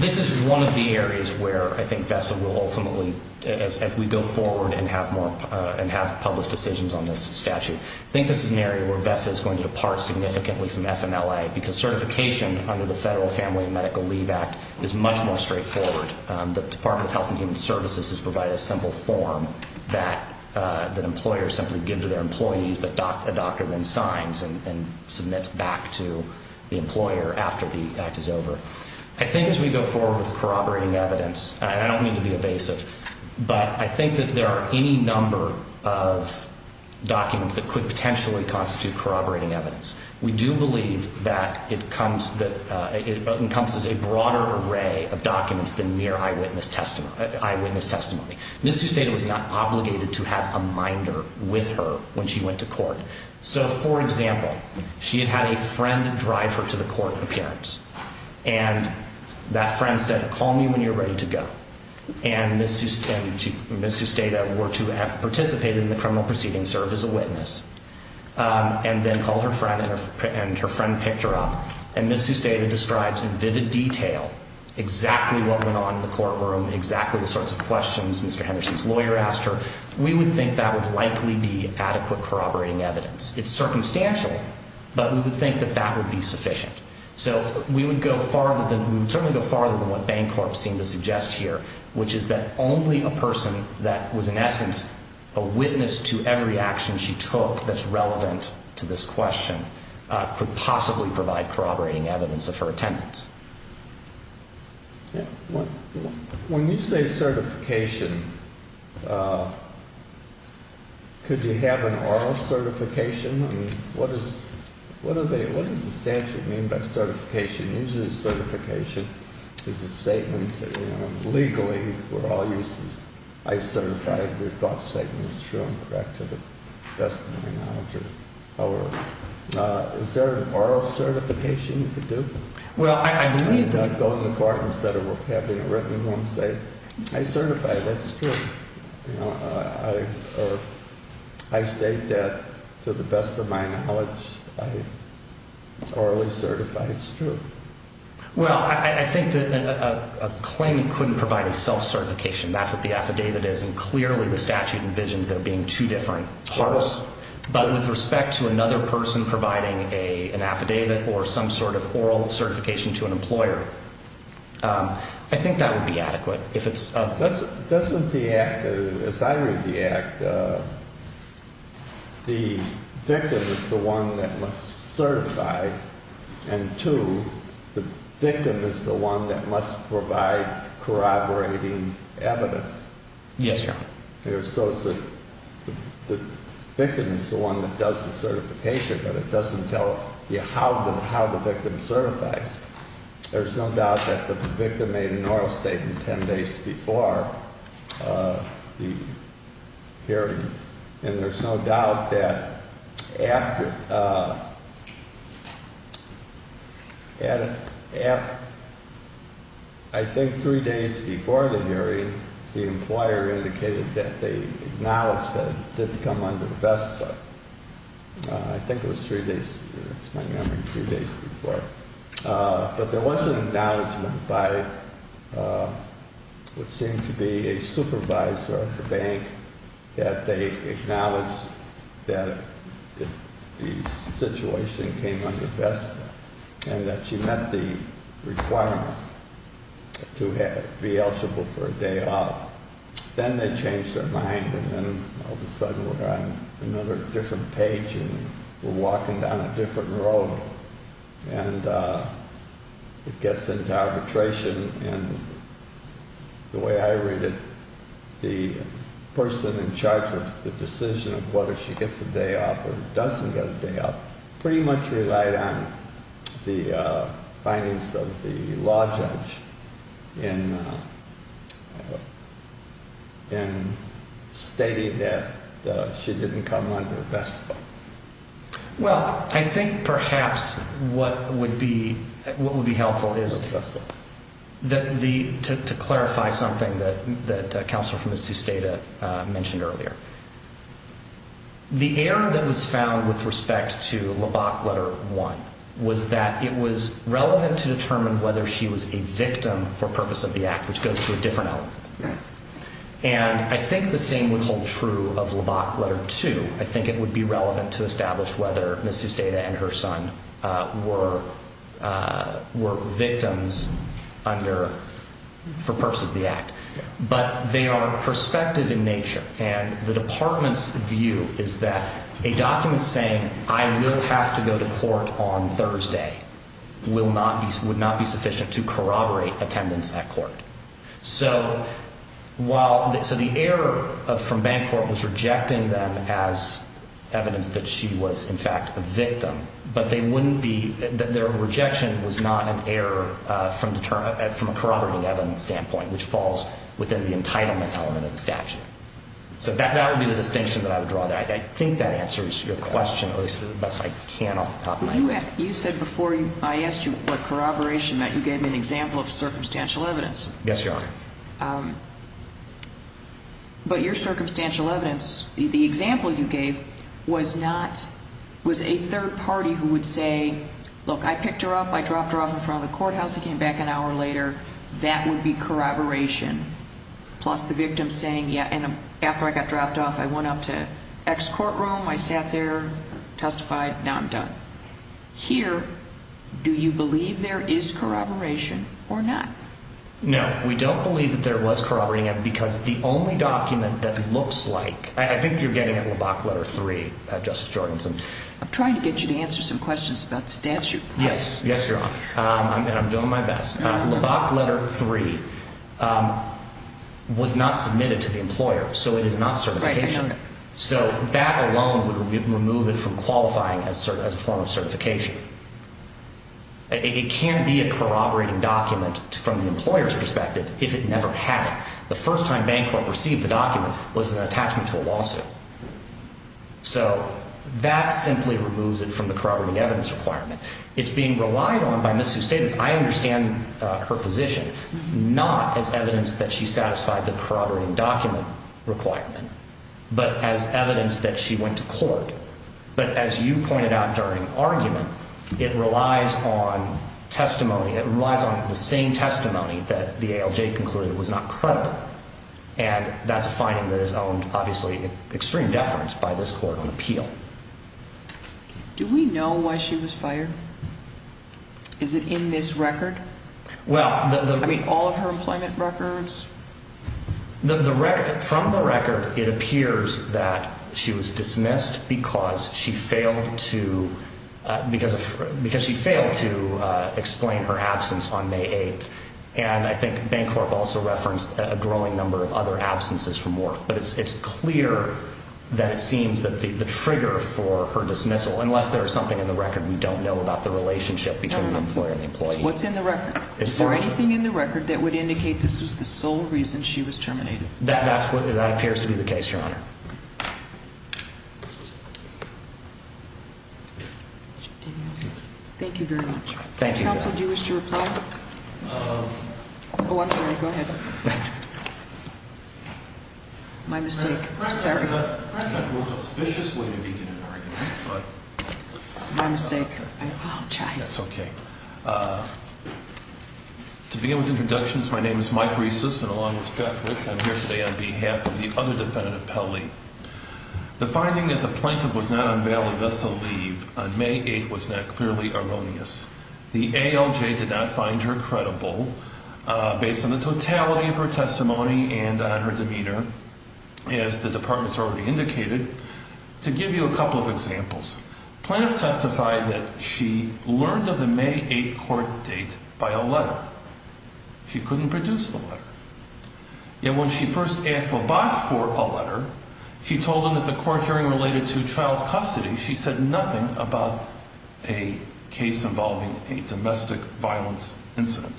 this is one of the areas where I think VESA will ultimately, as we go forward and have more and have published decisions on this statute, I think this is an area where VESA is going to depart significantly from FMLA, because certification under the Federal Family and Medical Leave Act is much more straightforward. The Department of Health and Human Services has provided a simple form that employers simply give to their employees, that a doctor then signs and submits back to the employer after the Act is over. I think as we go forward with corroborating evidence, and I don't mean to be evasive, but I think that there are any number of documents that could potentially constitute corroborating evidence. We do believe that it comes as a broader array of documents than mere eyewitness testimony. Ms. Usteda was not obligated to have a minder with her when she went to court. So, for example, she had had a friend drive her to the court appearance, and that friend said, call me when you're ready to go. And Ms. Usteda were to have participated in the criminal proceeding, served as a witness, and then called her friend, and her friend picked her up. And Ms. Usteda describes in vivid detail exactly what went on in the courtroom, exactly the sorts of questions Mr. Henderson's lawyer asked her. We would think that would likely be adequate corroborating evidence. It's circumstantial, but we would think that that would be sufficient. So we would go farther than what Bancorp seemed to suggest here, which is that only a person that was in essence a witness to every action she took that's relevant to this question could possibly provide corroborating evidence of her attendance. When you say certification, could you have an oral certification? I mean, what does the statute mean by certification? Usually certification is a statement that, you know, legally we're all used to, I certify that your thought statement is true and correct to the best of my knowledge. However, is there an oral certification you could do? Well, I believe that... I would go in the court instead of having it written and say, I certify that's true. You know, I say that to the best of my knowledge, I orally certify it's true. Well, I think that a claimant couldn't provide a self-certification. That's what the affidavit is, and clearly the statute envisions there being two different parts. But with respect to another person providing an affidavit or some sort of oral certification to an employer, I think that would be adequate. Doesn't the act, as I read the act, the victim is the one that must certify, and two, the victim is the one that must provide corroborating evidence? Yes, Your Honor. The victim is the one that does the certification, but it doesn't tell you how the victim certifies. There's no doubt that the victim made an oral statement ten days before the hearing, and there's no doubt that after, I think three days before the hearing, the employer indicated that they acknowledged that it didn't come under the vestibule. I think it was three days, that's my memory, three days before. But there was an acknowledgment by what seemed to be a supervisor of the bank that they acknowledged that the situation came under vestibule, and that she met the requirements to be eligible for a day off. Then they changed their mind, and then all of a sudden we're on another different page, and we're walking down a different road, and it gets into arbitration, and the way I read it, the person in charge of the decision of whether she gets a day off or doesn't get a day off pretty much relied on the findings of the law judge in stating that she didn't come under the vestibule. Well, I think perhaps what would be helpful is to clarify something that Counselor Frumas-Zustada mentioned earlier. The error that was found with respect to the Bachletter I was that it was relevant to determine whether she was a victim for purpose of the act, which goes to a different element. And I think the same would hold true of the Bachletter II. I think it would be relevant to establish whether Ms. Zustada and her son were victims for purpose of the act. But they are prospective in nature, and the Department's view is that a document saying, I will have to go to court on Thursday, would not be sufficient to corroborate attendance at court. So the error from Bancorp was rejecting them as evidence that she was, in fact, a victim, but their rejection was not an error from a corroborating evidence standpoint, which falls within the entitlement element of the statute. So that would be the distinction that I would draw there. I think that answers your question, at least to the best I can off the top of my head. You said before I asked you about corroboration that you gave me an example of circumstantial evidence. Yes, Your Honor. But your circumstantial evidence, the example you gave, was a third party who would say, look, I picked her up, I dropped her off in front of the courthouse, I came back an hour later. That would be corroboration. Plus the victim saying, yeah, and after I got dropped off, I went up to X courtroom, I sat there, testified, now I'm done. Here, do you believe there is corroboration or not? No, we don't believe that there was corroborating evidence because the only document that looks like, I think you're getting at LeBock Letter 3, Justice Jorgenson. I'm trying to get you to answer some questions about the statute. Yes, yes, Your Honor, and I'm doing my best. LeBock Letter 3 was not submitted to the employer, so it is not certification. Right, I know that. So that alone would remove it from qualifying as a form of certification. It can be a corroborating document from the employer's perspective if it never had it. The first time Bancorp received the document was an attachment to a lawsuit. So that simply removes it from the corroborating evidence requirement. It's being relied on by Ms. Eustates. I understand her position, not as evidence that she satisfied the corroborating document requirement, but as evidence that she went to court. But as you pointed out during argument, it relies on testimony. It relies on the same testimony that the ALJ concluded was not credible, and that's a finding that is owned, obviously, extreme deference by this court on appeal. Do we know why she was fired? Is it in this record? Well, the... I mean, all of her employment records? From the record, it appears that she was dismissed because she failed to explain her absence on May 8th. And I think Bancorp also referenced a growing number of other absences from work. But it's clear that it seems that the trigger for her dismissal, unless there is something in the record we don't know about the relationship between the employer and the employee. What's in the record? Is there anything in the record that would indicate this was the sole reason she was terminated? That appears to be the case, Your Honor. Thank you very much. Thank you. Counsel, do you wish to reply? Oh, I'm sorry. Go ahead. My mistake. I'm sorry. That was an auspicious way to begin an argument, but... My mistake. I apologize. That's okay. To begin with introductions, my name is Mike Resus, and along with Jeff Rich, I'm here today on behalf of the other defendant, Appelli. The finding that the plaintiff was not on bail unless a leave on May 8th was not clearly erroneous. The ALJ did not find her credible, based on the totality of her testimony and on her demeanor, as the department has already indicated. To give you a couple of examples, the plaintiff testified that she learned of the May 8th court date by a letter. She couldn't produce the letter. Yet when she first asked Lobach for a letter, she told him that the court hearing related to child custody, she said nothing about a case involving a domestic violence incident.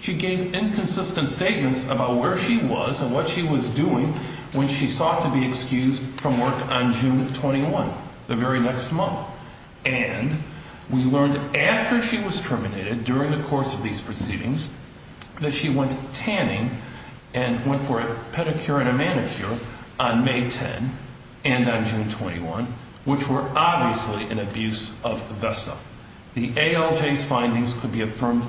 She gave inconsistent statements about where she was and what she was doing when she sought to be excused from work on June 21, the very next month. And we learned after she was terminated during the course of these proceedings that she went tanning and went for a pedicure and a manicure on May 10 and on June 21, which were obviously an abuse of VESA. The ALJ's findings could be affirmed,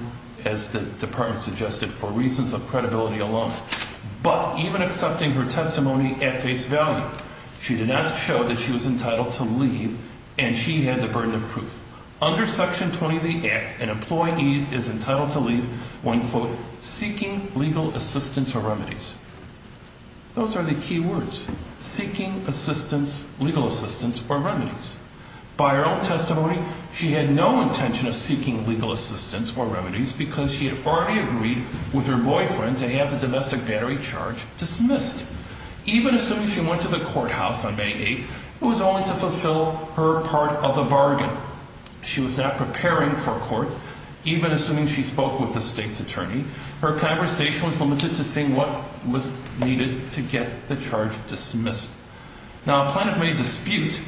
as the department suggested, for reasons of credibility alone. But even accepting her testimony at face value, she did not show that she was entitled to leave, and she had the burden of proof. Under Section 20 of the Act, an employee is entitled to leave when, quote, seeking legal assistance or remedies. Those are the key words, seeking assistance, legal assistance or remedies. By her own testimony, she had no intention of seeking legal assistance or remedies because she had already agreed with her boyfriend to have the domestic battery charge dismissed. Even assuming she went to the courthouse on May 8, it was only to fulfill her part of the bargain. However, she was not preparing for court. Even assuming she spoke with the state's attorney, her conversation was limited to seeing what was needed to get the charge dismissed. Now, Plaintiff made a dispute,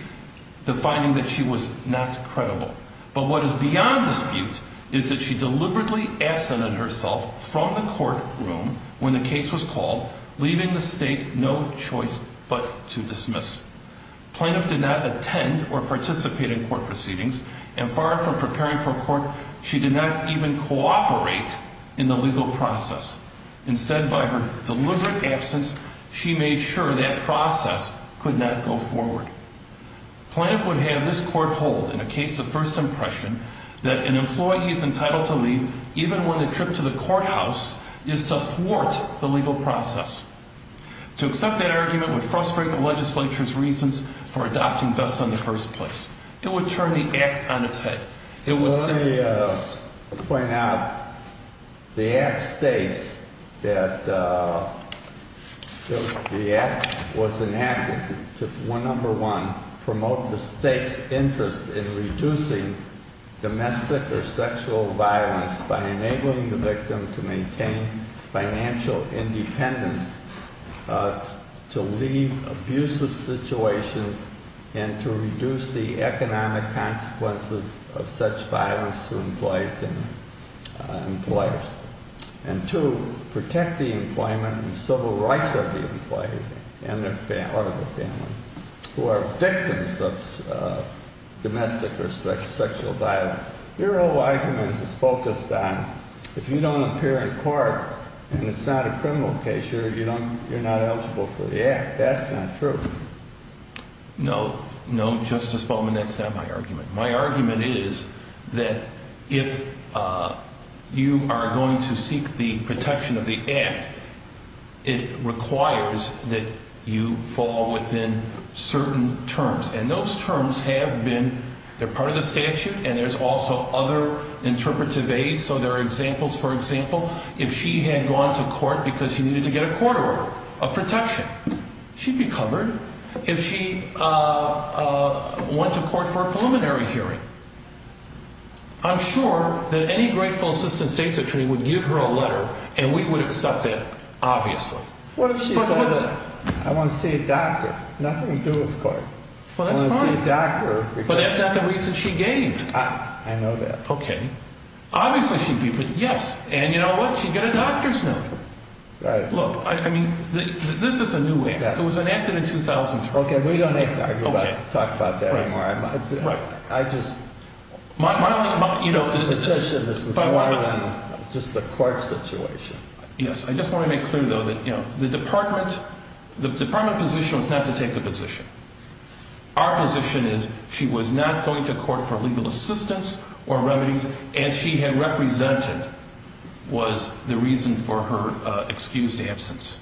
defining that she was not credible. But what is beyond dispute is that she deliberately absented herself from the courtroom when the case was called, leaving the state no choice but to dismiss. Plaintiff did not attend or participate in court proceedings, and far from preparing for court, she did not even cooperate in the legal process. Instead, by her deliberate absence, she made sure that process could not go forward. Plaintiff would have this court hold in a case of first impression that an employee is entitled to leave even when the trip to the courthouse is to thwart the legal process. To accept that argument would frustrate the legislature's reasons for adopting Bess in the first place. It would turn the Act on its head. I want to point out the Act states that the Act was enacted to, number one, promote the state's interest in reducing domestic or sexual violence by enabling the victim to maintain financial independence to leave abusive situations and to reduce the economic consequences of such violence to employees and employers. And two, protect the employment and civil rights of the employee or the family who are victims of domestic or sexual violence. Your whole argument is focused on if you don't appear in court and it's not a criminal case, you're not eligible for the Act. That's not true. No, no, Justice Bowman, that's not my argument. My argument is that if you are going to seek the protection of the Act, it requires that you fall within certain terms, and those terms have been part of the statute and there's also other interpretive aids. So there are examples. For example, if she had gone to court because she needed to get a court order of protection, she'd be covered. If she went to court for a preliminary hearing, I'm sure that any grateful assistant states attorney would give her a letter and we would accept that, obviously. What if she said that I want to see a doctor? Nothing to do with court. Well, that's fine. I want to see a doctor. But that's not the reason she gave. I know that. Okay. Obviously she'd be, yes, and you know what? She'd get a doctor's note. Right. Look, I mean, this is a new Act. It was enacted in 2003. Okay, we don't have to talk about that anymore. Right. I just, you know, this is more than just a court situation. Yes, I just want to make clear, though, that, you know, the department position was not to take a position. Our position is she was not going to court for legal assistance or remedies as she had represented was the reason for her excused absence.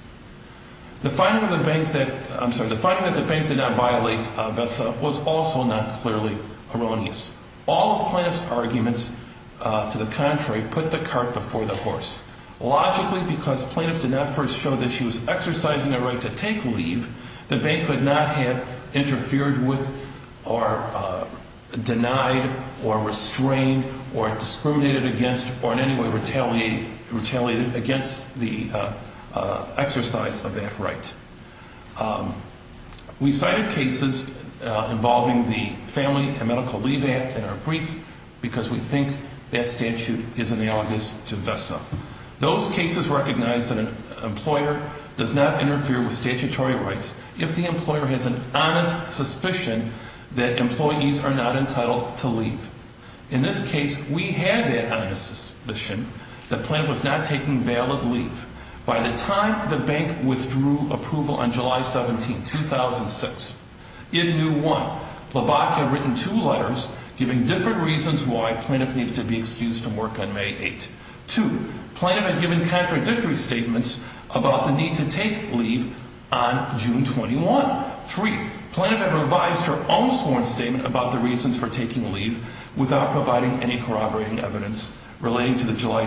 The finding of the bank that, I'm sorry, the finding that the bank did not violate VESA was also not clearly erroneous. All of Plante's arguments, to the contrary, put the cart before the horse. Logically, because Plante did not first show that she was exercising a right to take leave, the bank could not have interfered with or denied or restrained or discriminated against or in any way retaliated against the exercise of that right. We cited cases involving the Family and Medical Leave Act in our brief because we think that statute is analogous to VESA. Those cases recognize that an employer does not interfere with statutory rights if the employer has an honest suspicion that employees are not entitled to leave. In this case, we had that honest suspicion that Plante was not taking valid leave. By the time the bank withdrew approval on July 17, 2006, it knew, one, Labate had written two letters giving different reasons why Plante needed to be excused from work on May 8. Two, Plante had given contradictory statements about the need to take leave on June 21. Three, Plante had revised her own sworn statement about the reasons for taking leave without providing any corroborating evidence relating to the July,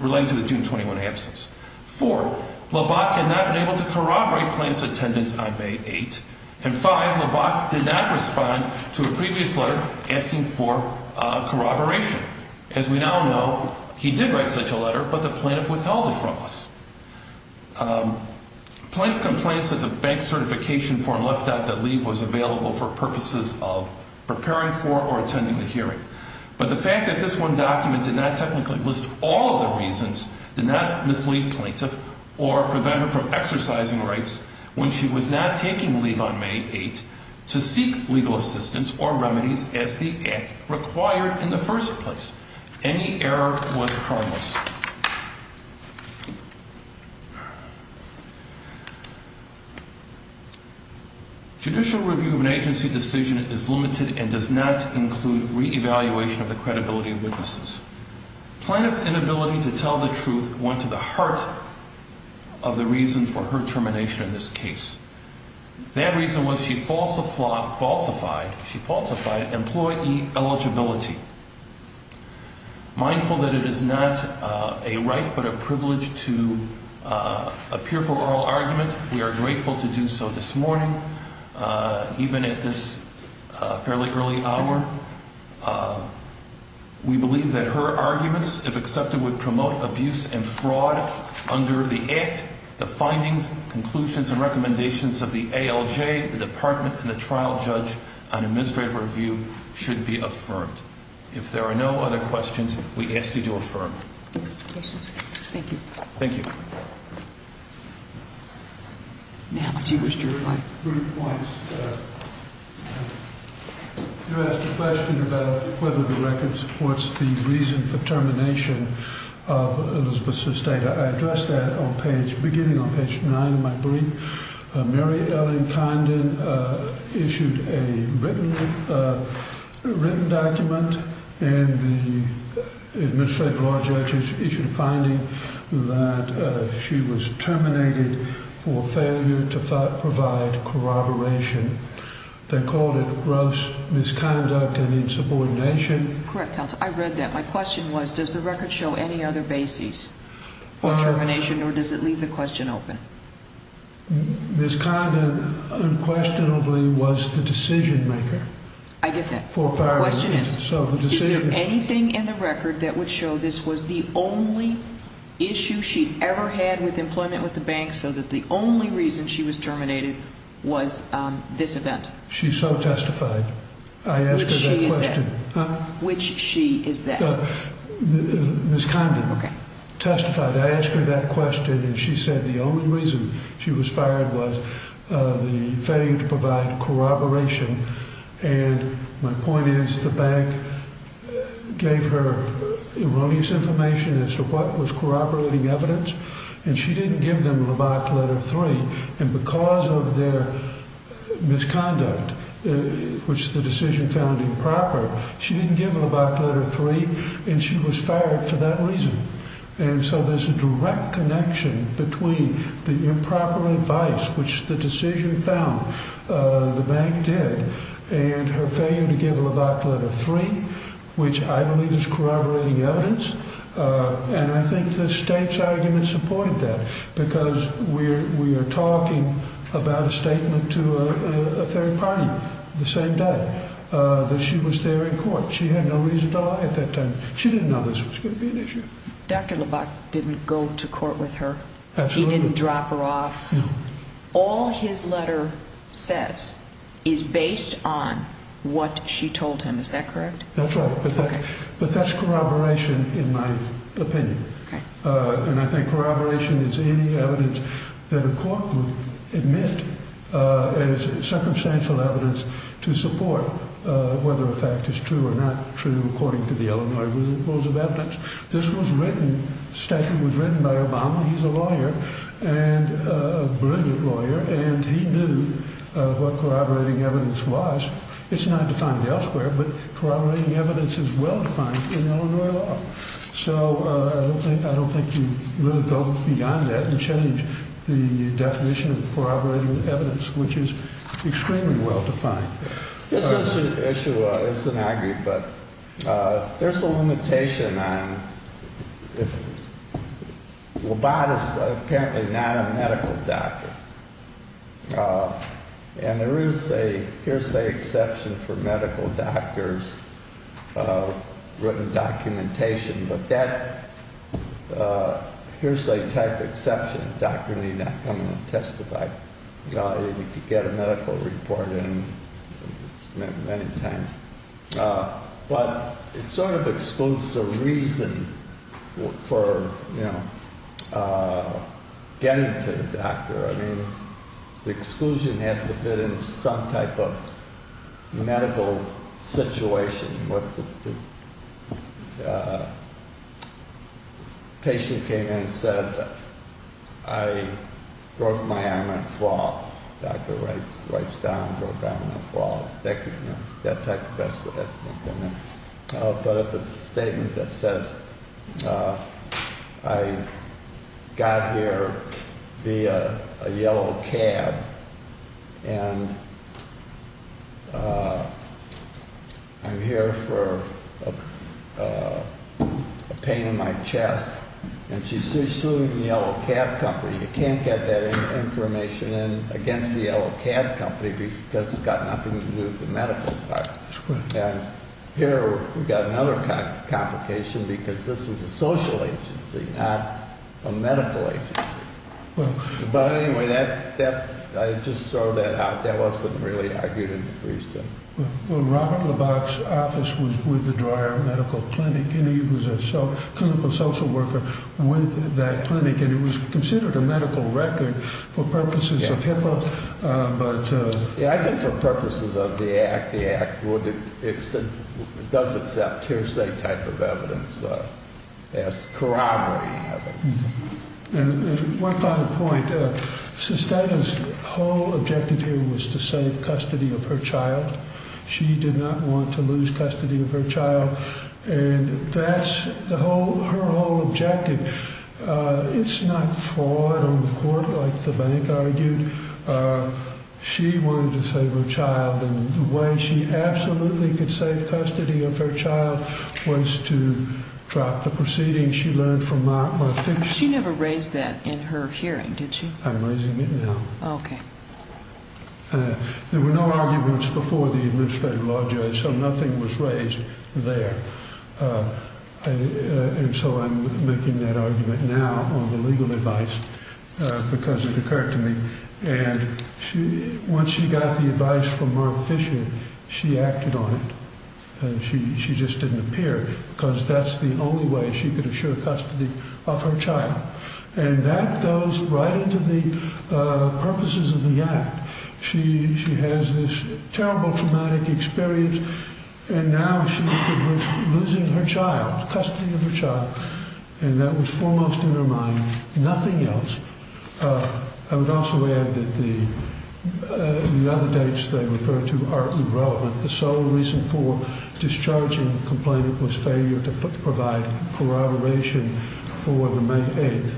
relating to the June 21 absence. Four, Labate had not been able to corroborate Plante's attendance on May 8. And five, Labate did not respond to a previous letter asking for corroboration. As we now know, he did write such a letter, but the Plante withheld it from us. Plante complains that the bank certification form left out that leave was available for purposes of preparing for or attending the hearing. But the fact that this one document did not technically list all of the reasons did not mislead Plante or prevent her from exercising rights when she was not taking leave on May 8 to seek legal assistance or remedies as the act required in the first place. Any error was harmless. Judicial review of an agency decision is limited and does not include re-evaluation of the credibility of witnesses. Plante's inability to tell the truth went to the heart of the reason for her termination in this case. That reason was she falsified employee eligibility. Mindful that it is not a right but a privilege to appear for oral argument, we are grateful to do so this morning, even at this fairly early hour. We believe that her arguments, if accepted, would promote abuse and fraud under the Act. The findings, conclusions, and recommendations of the ALJ, the Department, and the trial judge on administrative review should be affirmed. If there are no other questions, we ask you to affirm. Thank you. Thank you. You asked a question about whether the record supports the reason for termination of Elizabeth's data. I addressed that beginning on page 9 of my brief. Mary Ellen Condon issued a written document and the Administrative Law Judge issued a finding that she was terminated for failure to provide corroboration. They called it gross misconduct and insubordination. Correct, counsel. I read that. My question was, does the record show any other basis for termination, or does it leave the question open? Ms. Condon unquestionably was the decision-maker. I get that. The question is, is there anything in the record that would show this was the only issue she'd ever had with employment with the bank, so that the only reason she was terminated was this event? She so testified. Which she is that? Huh? Which she is that? Ms. Condon testified. I asked her that question, and she said the only reason she was fired was the failure to provide corroboration. And my point is, the bank gave her release information as to what was corroborating evidence, and she didn't give them the black letter 3. And because of their misconduct, which the decision found improper, she didn't give them the black letter 3, and she was fired for that reason. And so there's a direct connection between the improper advice, which the decision found the bank did, and her failure to give her the black letter 3, which I believe is corroborating evidence. And I think the state's argument supported that, because we are talking about a statement to a third party the same day, that she was there in court. She had no reason to lie at that time. She didn't know this was going to be an issue. Dr. LeBach didn't go to court with her. Absolutely. He didn't drop her off. No. All his letter says is based on what she told him. Is that correct? That's right. Okay. But that's corroboration, in my opinion. Okay. And I think corroboration is any evidence that a court would admit as circumstantial evidence to support whether a fact is true or not true according to the Illinois Rules of Evidence. This was written, the statute was written by Obama. He's a lawyer, a brilliant lawyer, and he knew what corroborating evidence was. It's not defined elsewhere, but corroborating evidence is well-defined in Illinois law. So I don't think you really go beyond that and change the definition of corroborating evidence, which is extremely well-defined. This issue isn't argued, but there's a limitation on if LeBach is apparently not a medical doctor. And there is a hearsay exception for medical doctors' written documentation, but that hearsay type exception, doctor need not come and testify. You could get a medical report and submit many times. But it sort of excludes the reason for getting to the doctor. The exclusion has to fit in some type of medical situation. A patient came in and said, I broke my arm in a fall. A doctor writes down, broke an arm in a fall. That type of thing. But it's a statement that says, I got here via a yellow cab, and I'm here for a pain in my chest, and she's suing the yellow cab company. You can't get that information in against the yellow cab company because it's got nothing to do with the medical department. Here we've got another complication because this is a social agency, not a medical agency. But anyway, I just throw that out. That wasn't really argued in the briefs. Robert LeBach's office was with the Dreyer Medical Clinic, and he was a clinical social worker with that clinic, I think for purposes of the Act, the Act does accept hearsay type of evidence as corroborating evidence. One final point. Susteda's whole objective here was to save custody of her child. She did not want to lose custody of her child. And that's her whole objective. It's not flawed on the court like the bank argued. She wanted to save her child, and the way she absolutely could save custody of her child was to drop the proceedings she learned from my fixture. She never raised that in her hearing, did she? I'm raising it now. Okay. There were no arguments before the administrative law judge, so nothing was raised there. And so I'm making that argument now on the legal advice because it occurred to me. And once she got the advice from Mark Fisher, she acted on it. She just didn't appear because that's the only way she could assure custody of her child. And that goes right into the purposes of the Act. She has this terrible traumatic experience, and now she's losing her child, custody of her child. And that was foremost in her mind. Nothing else. I would also add that the other dates they referred to are irrelevant. The sole reason for discharging the complainant was failure to provide corroboration for the May 8th.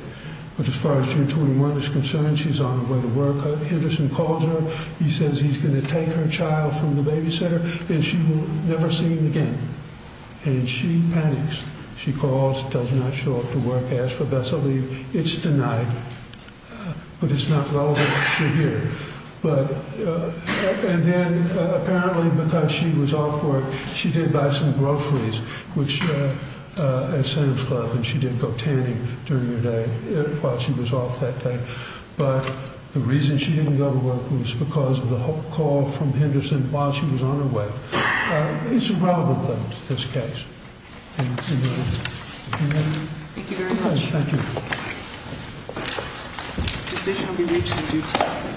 But as far as June 21 is concerned, she's on her way to work. Henderson calls her. He says he's going to take her child from the babysitter, and she will never see him again. And she panics. She calls, does not show up to work, asks for Bessel to leave. It's denied, but it's not relevant to here. And then apparently because she was off work, she did buy some groceries at Sam's Club, and she did go tanning during the day while she was off that day. But the reason she didn't go to work was because of the call from Henderson while she was on her way. It's a relevant thing to this case. Thank you very much. Thank you. The decision will be reached in due time.